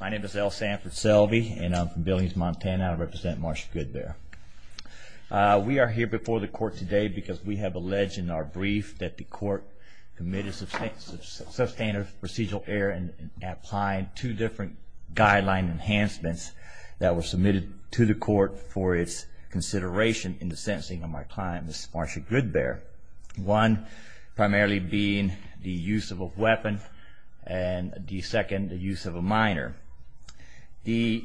My name is L. Sanford Selvey and I'm from Billings, Montana. I represent Marcia Goodbear. We are here before the court today because we have alleged in our brief that the court committed substantive procedural error in applying two different guideline enhancements that were submitted to the court for its consideration in the sentencing of my client, Ms. Marcia Goodbear. One primarily being the use of a weapon and the second the use of a minor. The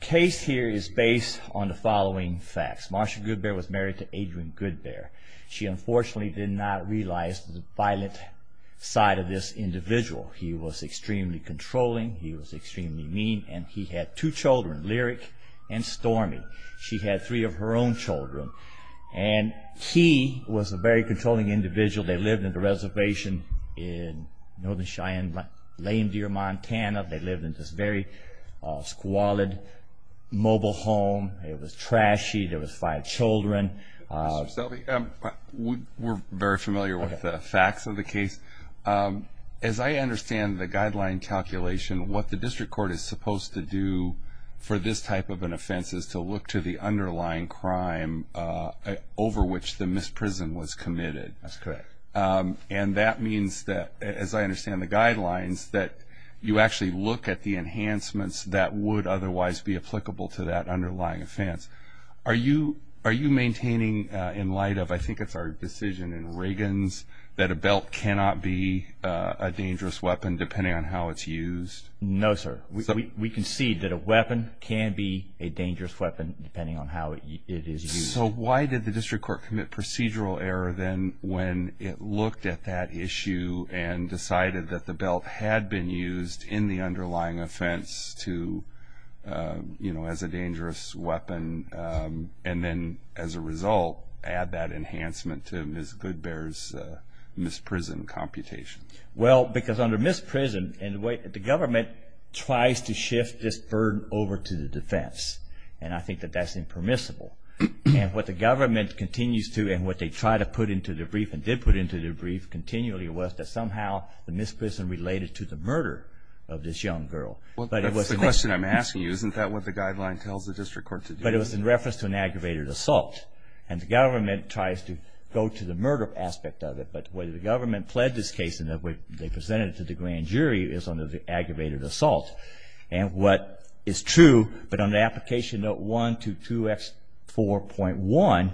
case here is based on the following facts. Marcia Goodbear was married to Adrian Goodbear. She unfortunately did not realize the violent side of this individual. He was extremely controlling, he was extremely mean, and he had two children, Lyric and Stormy. She had three of her own children and he was a very controlling individual. They lived in a reservation in northern Cheyenne, Lame Deer, Montana. They lived in this very squalid mobile home. It was trashy, there was five children. Mr. Selvey, we're very familiar with the facts of the case. As I understand the guideline calculation, what the district court is supposed to do for this type of an offense is to look to the underlying crime over which the misprison was committed. That's correct. And that means that, as I understand the guidelines, that you actually look at the enhancements that would otherwise be applicable to that underlying offense. Are you maintaining in light of, I think it's our decision in Reagan's, that a belt cannot be a dangerous weapon depending on how it's used? No, sir. We concede that a weapon can be a dangerous weapon depending on how it is used. So why did the district court commit procedural error then when it looked at that issue and decided that the belt had been used in the underlying offense as a dangerous weapon and then, as a result, add that enhancement to Ms. Goodbear's misprison computation? Well, because under misprison, the government tries to shift this burden over to the defense. And I think that that's impermissible. And what the government continues to and what they try to put into the brief and did put into the brief continually was that somehow the misprison related to the murder of this young girl. That's the question I'm asking you. Isn't that what the guideline tells the district court to do? But it was in reference to an aggravated assault. And the government tries to go to the murder aspect of it. But whether the government pled this case in the way they presented it to the grand jury is under the aggravated assault. And what is true, but under Application Note 1 to 2X4.1,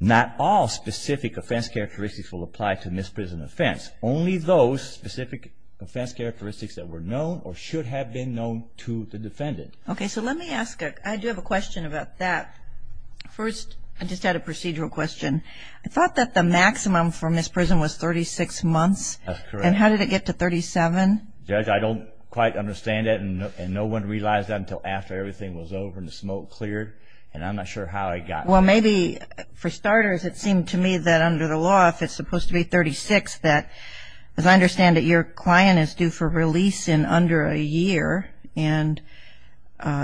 not all specific offense characteristics will apply to misprison offense. Only those specific offense characteristics that were known or should have been known to the defendant. Okay, so let me ask a question about that. First, I just had a procedural question. I thought that the maximum for misprison was 36 months. That's correct. And how did it get to 37? Judge, I don't quite understand that. And no one realized that until after everything was over and the smoke cleared. And I'm not sure how it got there. Well, maybe for starters, it seemed to me that under the law, if it's supposed to be 36, that as I understand it, your client is due for release in under a year. And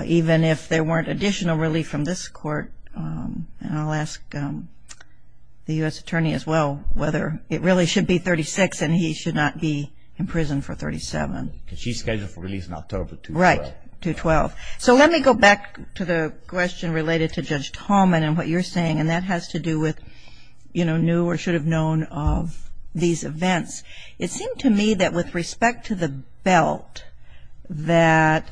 even if there weren't additional relief from this court, and I'll ask the U.S. attorney as well whether it really should be 36 and he should not be in prison for 37. Because she's scheduled for release in October 212. Right, 212. So let me go back to the question related to Judge Tallman and what you're saying. And that has to do with, you know, new or should have known of these events. It seemed to me that with respect to the belt, that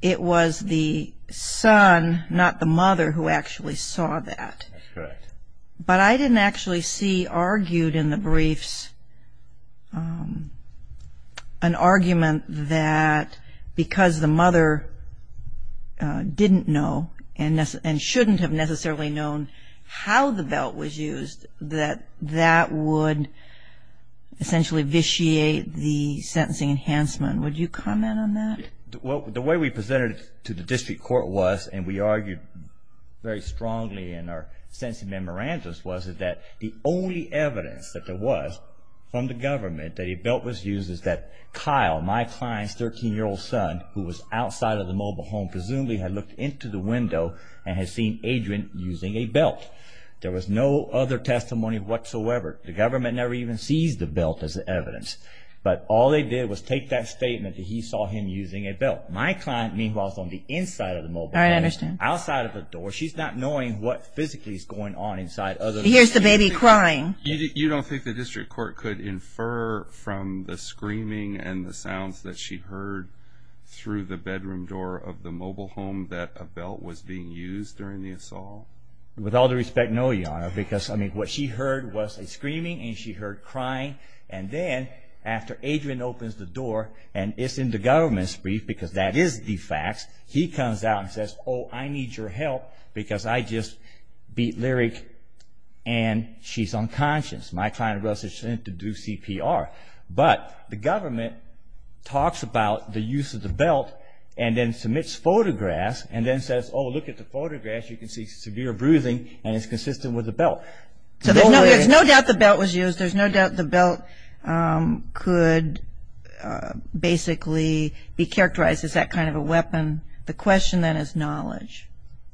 it was the son, not the mother, who actually saw that. That's correct. But I didn't actually see argued in the briefs an argument that because the mother didn't know and shouldn't have necessarily known how the belt was used, that that would essentially vitiate the sentencing enhancement. Would you comment on that? Well, the way we presented it to the district court was, and we argued very strongly in our sentencing memorandums was, that the only evidence that there was from the government that a belt was used is that Kyle, my client's 13-year-old son, who was outside of the mobile home, presumably had looked into the window and had seen Adrian using a belt. There was no other testimony whatsoever. The government never even seized the belt as evidence. But all they did was take that statement that he saw him using a belt. My client, meanwhile, is on the inside of the mobile home. I understand. Outside of the door. She's not knowing what physically is going on inside. Here's the baby crying. You don't think the district court could infer from the screaming and the sounds that she heard through the bedroom door of the mobile home that a belt was being used during the assault? With all due respect, no, Your Honor, because what she heard was a screaming, and she heard crying, and then after Adrian opens the door, and it's in the government's brief because that is the facts, he comes out and says, Oh, I need your help because I just beat Lyric, and she's unconscious. My client was sent to do CPR. But the government talks about the use of the belt and then submits photographs and then says, Oh, look at the photographs. You can see severe bruising, and it's consistent with the belt. So there's no doubt the belt was used. There's no doubt the belt could basically be characterized as that kind of a weapon. The question then is knowledge.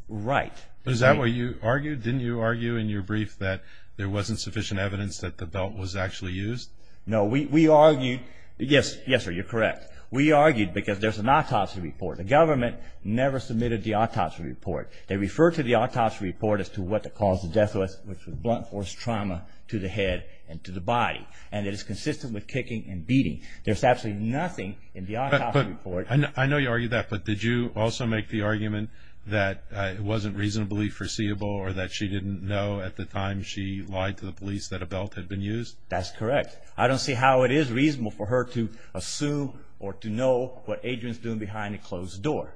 Right. Is that what you argued? Didn't you argue in your brief that there wasn't sufficient evidence that the belt was actually used? No. We argued – yes, sir, you're correct. We argued because there's an autopsy report. The government never submitted the autopsy report. They refer to the autopsy report as to what the cause of death was, which was blunt force trauma to the head and to the body, and it is consistent with kicking and beating. There's absolutely nothing in the autopsy report. I know you argued that, but did you also make the argument that it wasn't reasonably foreseeable or that she didn't know at the time she lied to the police that a belt had been used? That's correct. I don't see how it is reasonable for her to assume or to know what Adrian's doing behind a closed door.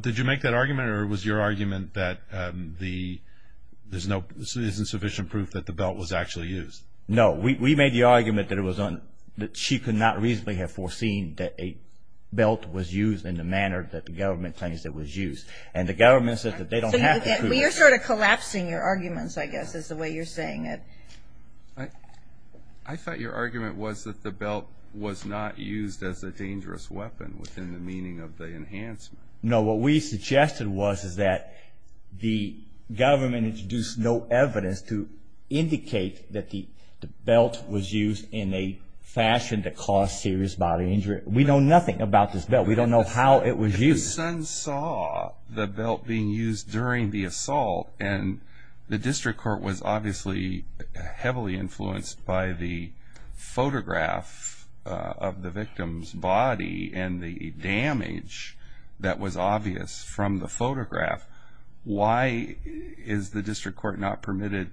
Did you make that argument or was your argument that there isn't sufficient proof that the belt was actually used? No. We made the argument that she could not reasonably have foreseen that a belt was used in the manner that the government claims it was used, and the government said that they don't have the proof. You're sort of collapsing your arguments, I guess, is the way you're saying it. I thought your argument was that the belt was not used as a dangerous weapon within the meaning of the enhancement. No, what we suggested was is that the government introduced no evidence to indicate that the belt was used in a fashion that caused serious bodily injury. We know nothing about this belt. We don't know how it was used. The son saw the belt being used during the assault, and the district court was obviously heavily influenced by the photograph of the victim's body and the damage that was obvious from the photograph. Why is the district court not permitted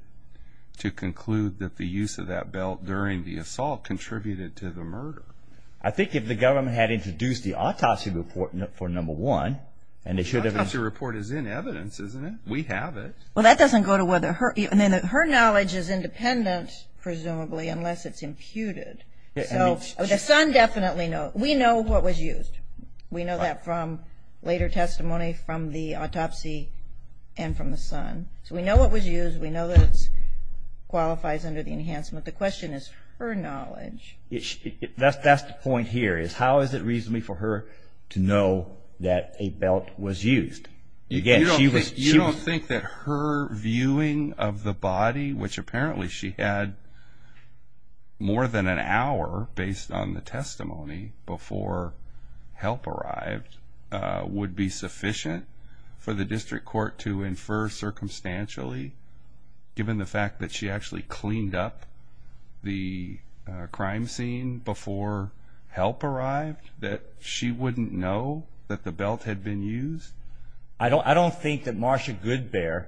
to conclude that the use of that belt during the assault contributed to the murder? I think if the government had introduced the autopsy report for number one, and they should have. The autopsy report is in evidence, isn't it? We have it. Well, that doesn't go to whether her knowledge is independent, presumably, unless it's imputed. The son definitely knows. We know what was used. We know that from later testimony from the autopsy and from the son. So we know what was used. We know that it qualifies under the enhancement. The question is her knowledge. That's the point here is how is it reasonable for her to know that a belt was used? You don't think that her viewing of the body, which apparently she had more than an hour based on the testimony before help arrived, would be sufficient for the district court to infer circumstantially, given the fact that she actually cleaned up the crime scene before help arrived, that she wouldn't know that the belt had been used? I don't think that Marsha Goodbear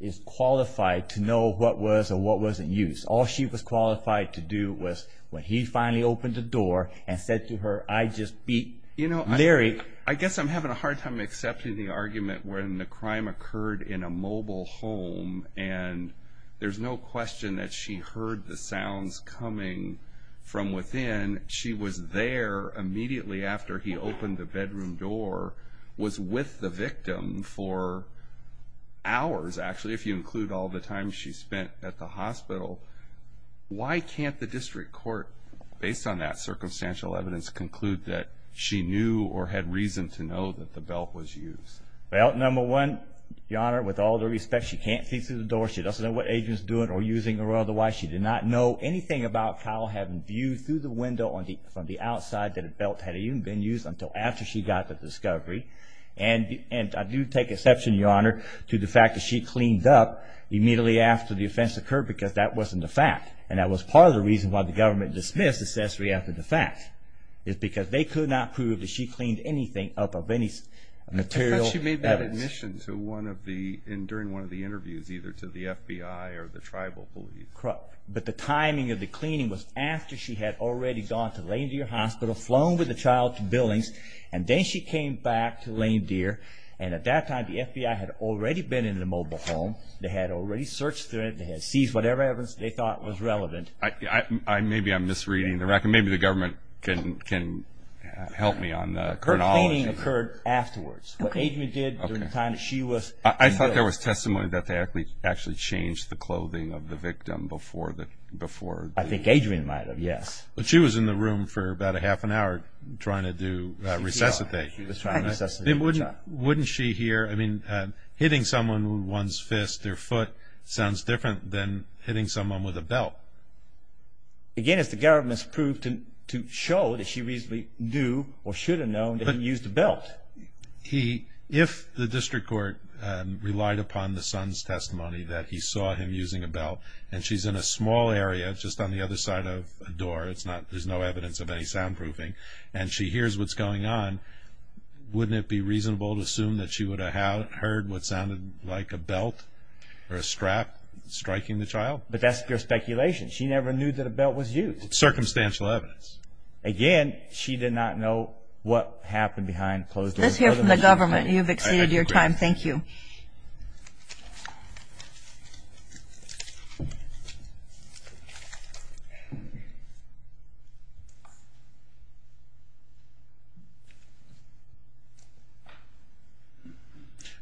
is qualified to know what was or what wasn't used. All she was qualified to do was when he finally opened the door and said to her, I just beat Larry. I guess I'm having a hard time accepting the argument when the crime occurred in a mobile home, and there's no question that she heard the sounds coming from within. When she was there immediately after he opened the bedroom door, was with the victim for hours, actually, if you include all the time she spent at the hospital, why can't the district court, based on that circumstantial evidence, conclude that she knew or had reason to know that the belt was used? Well, number one, Your Honor, with all due respect, she can't see through the door. She doesn't know what agent is doing or using or otherwise. She did not know anything about Kyle having viewed through the window from the outside that the belt had even been used until after she got the discovery. And I do take exception, Your Honor, to the fact that she cleaned up immediately after the offense occurred because that wasn't a fact. And that was part of the reason why the government dismissed the accessory after the fact, is because they could not prove that she cleaned anything up of any material evidence. And during one of the interviews, either to the FBI or the tribal police. Correct. But the timing of the cleaning was after she had already gone to Lame Deer Hospital, flown with the child to Billings, and then she came back to Lame Deer. And at that time, the FBI had already been in the mobile home. They had already searched through it. They had seized whatever evidence they thought was relevant. Maybe I'm misreading the record. Maybe the government can help me on the chronology. Her cleaning occurred afterwards. What Adrian did during the time that she was in Billings. I thought there was testimony that they actually changed the clothing of the victim before the... I think Adrian might have, yes. But she was in the room for about a half an hour trying to resuscitate. She was trying to resuscitate the child. Wouldn't she hear... I mean, hitting someone with one's fist or foot sounds different than hitting someone with a belt. Again, it's the government's proof to show that she reasonably knew or should have known that he used a belt. If the district court relied upon the son's testimony that he saw him using a belt and she's in a small area just on the other side of a door, there's no evidence of any soundproofing, and she hears what's going on, wouldn't it be reasonable to assume that she would have heard what sounded like a belt or a strap striking the child? But that's pure speculation. She never knew that a belt was used. Circumstantial evidence. Again, she did not know what happened behind closed doors. Let's hear from the government. You've exceeded your time. Thank you.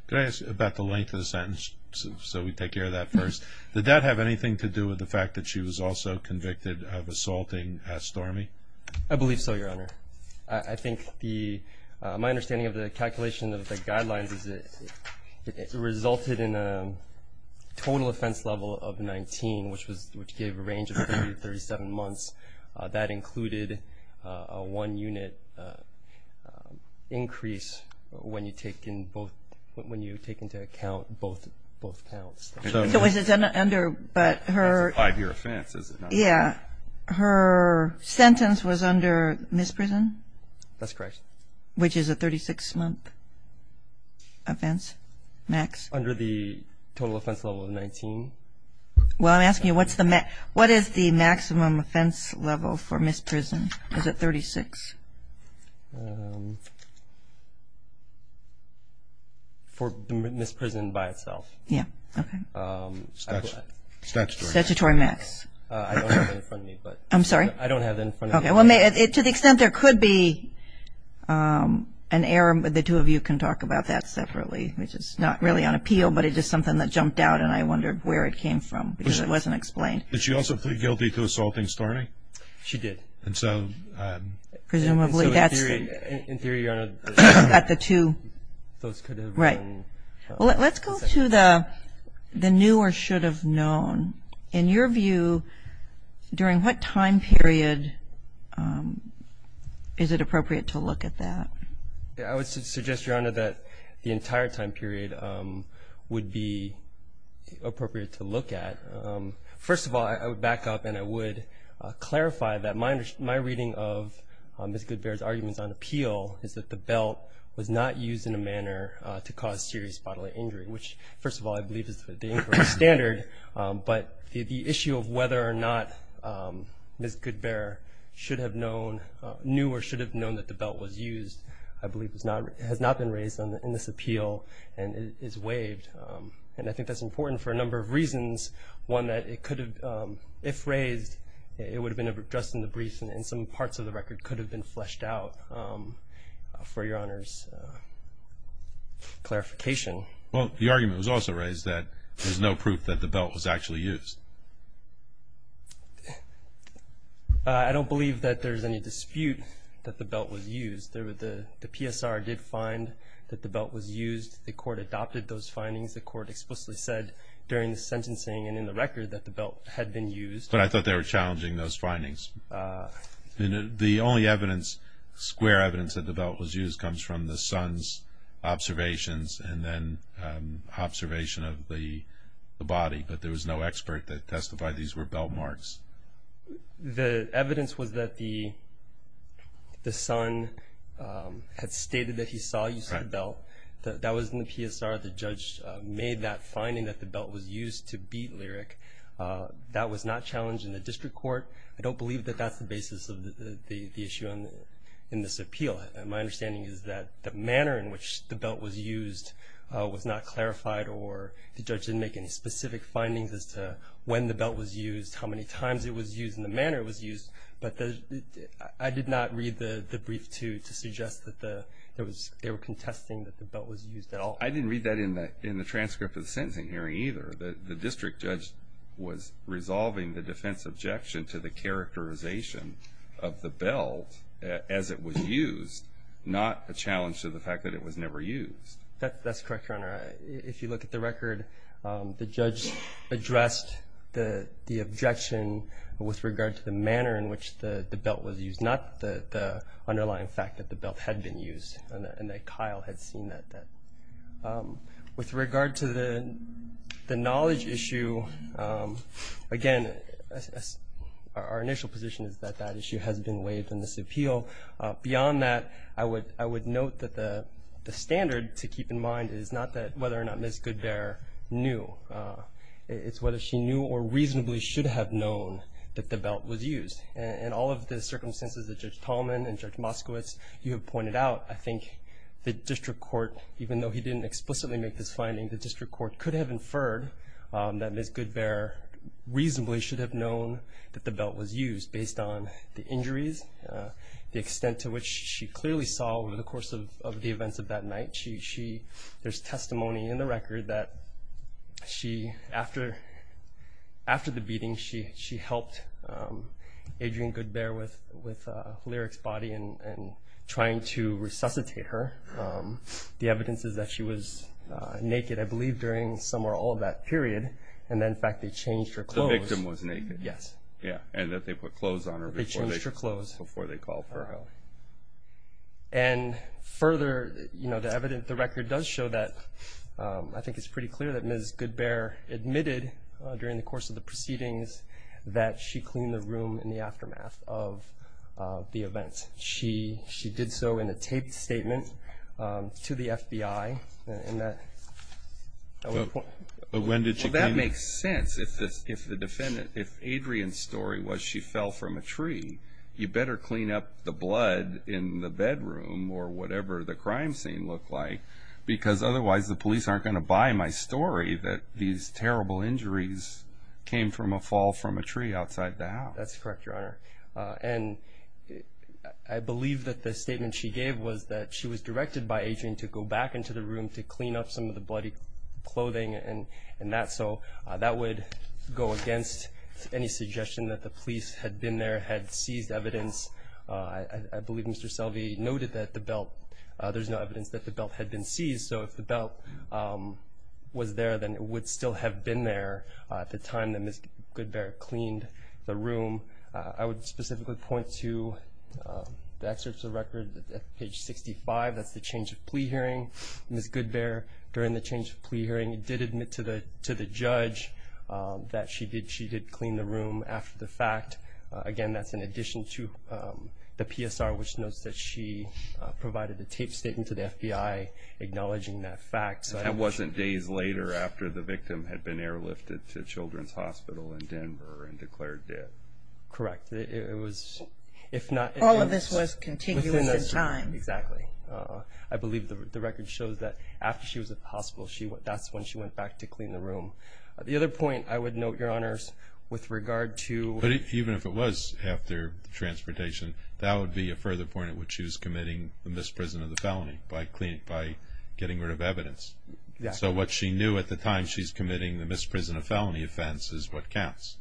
Can I ask you about the length of the sentence so we take care of that first? Did that have anything to do with the fact that she was also convicted of assaulting S. Stormy? I believe so, Your Honor. I think my understanding of the calculation of the guidelines is that it resulted in a total offense level of 19, which gave a range of 30 to 37 months. That included a one-unit increase when you take into account both counts. That's a five-year offense, is it not? Yeah. Her sentence was under misprison? That's correct. Which is a 36-month offense, max? Under the total offense level of 19. Well, I'm asking you, what is the maximum offense level for misprison? Is it 36? For the misprison by itself. Yeah. Okay. Statutory max. Statutory max. I don't have that in front of me. I'm sorry? I don't have that in front of me. Okay. To the extent there could be an error, the two of you can talk about that separately, which is not really on appeal, but it is something that jumped out, and I wondered where it came from because it wasn't explained. But she also pleaded guilty to assaulting Stormy? She did. And so in theory, Your Honor, those could have been. Right. Let's go to the new or should have known. In your view, during what time period is it appropriate to look at that? I would suggest, Your Honor, that the entire time period would be appropriate to look at. First of all, I would back up and I would clarify that my reading of Ms. Goodbear's arguments on appeal is that the belt was not used in a manner to cause serious bodily injury, which, first of all, I believe is the inquiry standard. But the issue of whether or not Ms. Goodbear should have known, knew or should have known that the belt was used, I believe, has not been raised in this appeal and is waived. And I think that's important for a number of reasons, one that it could have, if raised, it would have been addressed in the brief and some parts of the record could have been fleshed out, for Your Honor's clarification. Well, the argument was also raised that there's no proof that the belt was actually used. I don't believe that there's any dispute that the belt was used. The PSR did find that the belt was used. The court adopted those findings. The court explicitly said during the sentencing and in the record that the belt had been used. But I thought they were challenging those findings. The only evidence, square evidence, that the belt was used comes from the son's observations and then observation of the body, but there was no expert that testified these were belt marks. The evidence was that the son had stated that he saw use of the belt. That was in the PSR. The judge made that finding that the belt was used to beat Lyric. That was not challenged in the district court. I don't believe that that's the basis of the issue in this appeal. My understanding is that the manner in which the belt was used was not clarified or the judge didn't make any specific findings as to when the belt was used, how many times it was used, and the manner it was used. But I did not read the brief to suggest that they were contesting that the belt was used at all. I didn't read that in the transcript of the sentencing hearing either. The district judge was resolving the defense objection to the characterization of the belt as it was used, not a challenge to the fact that it was never used. That's correct, Your Honor. If you look at the record, the judge addressed the objection with regard to the manner in which the belt was used, not the underlying fact that the belt had been used and that Kyle had seen that. With regard to the knowledge issue, again, our initial position is that that issue has been waived in this appeal. Beyond that, I would note that the standard to keep in mind is not whether or not Ms. Goodbear knew. It's whether she knew or reasonably should have known that the belt was used. In all of the circumstances that Judge Tallman and Judge Moskowitz, you have pointed out, I think the district court, even though he didn't explicitly make this finding, the district court could have inferred that Ms. Goodbear reasonably should have known that the belt was used, based on the injuries, the extent to which she clearly saw over the course of the events of that night. There's testimony in the record that after the beating, she helped Adrian Goodbear with Lyric's body and trying to resuscitate her. The evidence is that she was naked, I believe, during some or all of that period, and that, in fact, they changed her clothes. The victim was naked? Yes. Yeah, and that they put clothes on her before they called her out. And further, the record does show that I think it's pretty clear that Ms. Goodbear admitted, during the course of the proceedings, that she cleaned the room in the aftermath of the events. She did so in a taped statement to the FBI. But when did she clean it? Well, that makes sense. If the defendant, if Adrian's story was she fell from a tree, you better clean up the blood in the bedroom or whatever the crime scene looked like, because otherwise the police aren't going to buy my story that these terrible injuries came from a fall from a tree outside the house. That's correct, Your Honor. And I believe that the statement she gave was that she was directed by Adrian to go back into the room to clean up some of the bloody clothing and that. So that would go against any suggestion that the police had been there, had seized evidence. I believe Mr. Selvey noted that the belt, there's no evidence that the belt had been seized. So if the belt was there, then it would still have been there at the time that Ms. Goodbear cleaned the room. I would specifically point to the excerpts of the record at page 65. That's the change of plea hearing. Ms. Goodbear, during the change of plea hearing, did admit to the judge that she did clean the room after the fact. Again, that's in addition to the PSR, which notes that she provided a taped statement to the FBI acknowledging that fact. That wasn't days later after the victim had been airlifted to Children's Hospital in Denver and declared dead. Correct. If not, it was within that time. All of this was continuous at the time. Exactly. I believe the record shows that after she was at the hospital, that's when she went back to clean the room. The other point I would note, Your Honors, with regard to- Even if it was after the transportation, that would be a further point at which she was committing the misprison of the felony by getting rid of evidence. Exactly. So what she knew at the time she's committing the misprison of felony offense is what counts.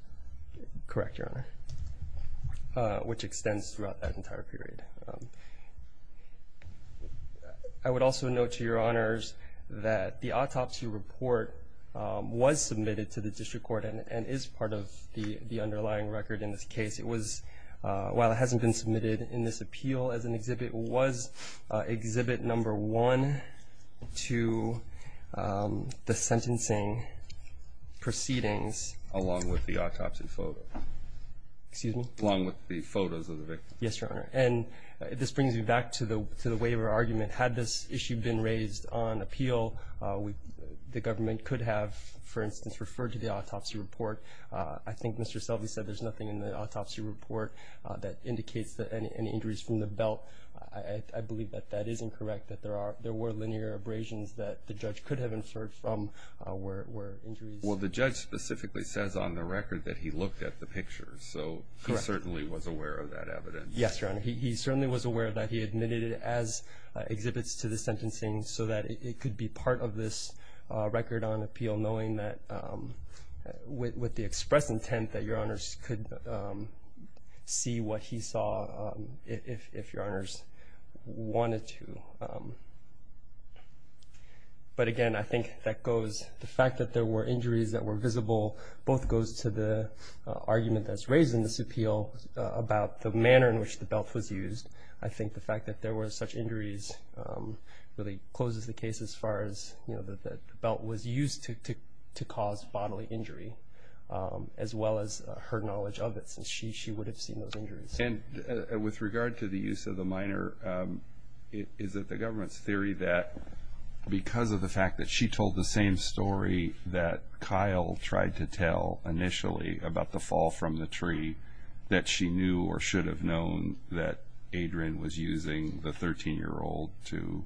Correct, Your Honor, which extends throughout that entire period. I would also note to Your Honors that the autopsy report was submitted to the district court and is part of the underlying record in this case. While it hasn't been submitted in this appeal as an exhibit, it was exhibit number one to the sentencing proceedings- Along with the autopsy photo. Excuse me? Along with the photos of the victim. Yes, Your Honor. And this brings me back to the waiver argument. Had this issue been raised on appeal, the government could have, for instance, referred to the autopsy report. I think Mr. Selvey said there's nothing in the autopsy report that indicates any injuries from the belt. I believe that that is incorrect, that there were linear abrasions that the judge could have inferred from were injuries. Well, the judge specifically says on the record that he looked at the pictures, so he certainly was aware of that evidence. Yes, Your Honor. He certainly was aware of that. He admitted it as exhibits to the sentencing so that it could be part of this record on appeal, knowing that with the express intent that Your Honors could see what he saw if Your Honors wanted to. But again, I think the fact that there were injuries that were visible both goes to the argument that's raised in this appeal about the manner in which the belt was used. I think the fact that there were such injuries really closes the case as far as the belt was used to cause bodily injury, as well as her knowledge of it, since she would have seen those injuries. And with regard to the use of the minor, is it the government's theory that because of the fact that she told the same story that Kyle tried to tell initially about the fall from the tree, that she knew or should have known that Adrian was using the 13-year-old to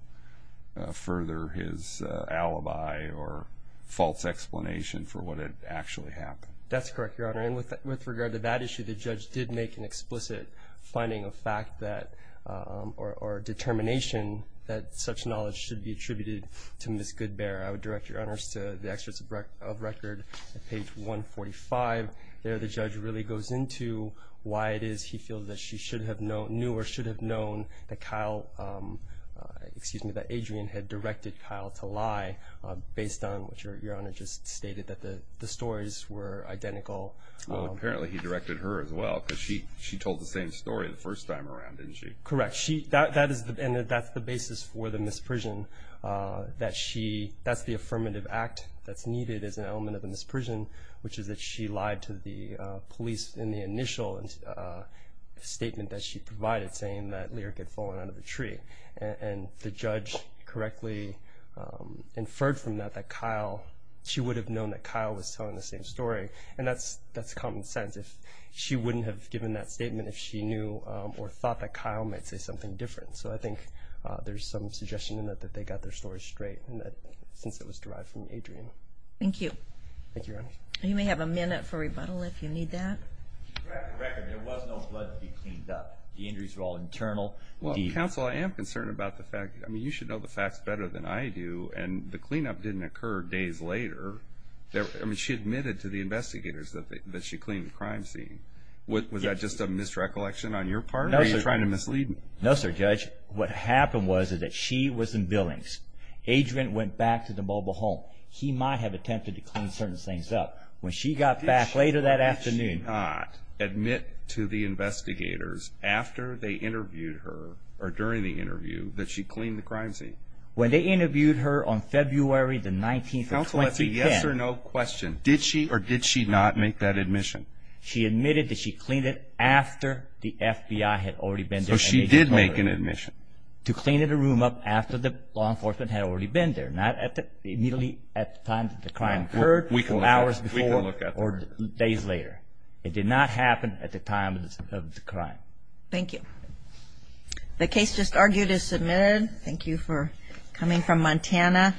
further his alibi or false explanation for what had actually happened? That's correct, Your Honor. And with regard to that issue, the judge did make an explicit finding of fact that or determination that such knowledge should be attributed to Ms. Goodbear. I would direct Your Honors to the excerpts of record at page 145. There the judge really goes into why it is he feels that she should have known, knew or should have known that Kyle, excuse me, that Adrian had directed Kyle to lie, based on what Your Honor just stated, that the stories were identical. Well, apparently he directed her as well because she told the same story the first time around, didn't she? Correct. And that's the basis for the misprision, that's the affirmative act that's needed as an element of the misprision, which is that she lied to the police in the initial statement that she provided, saying that Lyric had fallen out of the tree. And the judge correctly inferred from that that Kyle, she would have known that Kyle was telling the same story. And that's common sense. She wouldn't have given that statement if she knew or thought that Kyle might say something different. So I think there's some suggestion in that that they got their story straight since it was derived from Adrian. Thank you. Thank you, Your Honor. You may have a minute for rebuttal if you need that. To crack the record, there was no blood to be cleaned up. The injuries were all internal. Counsel, I am concerned about the fact, I mean, you should know the facts better than I do, and the cleanup didn't occur days later. I mean, she admitted to the investigators that she cleaned the crime scene. Was that just a misrecollection on your part or are you trying to mislead me? No, sir, Judge. What happened was that she was in Billings. Adrian went back to the mobile home. He might have attempted to clean certain things up. When she got back later that afternoon. She did not admit to the investigators after they interviewed her or during the interview that she cleaned the crime scene. When they interviewed her on February the 19th of 2010. Counsel, that's a yes or no question. Did she or did she not make that admission? She admitted that she cleaned it after the FBI had already been there. So she did make an admission. To clean the room up after the law enforcement had already been there, immediately at the time that the crime occurred, hours before, or days later. It did not happen at the time of the crime. Thank you. The case just argued is submitted. Thank you for coming from Montana.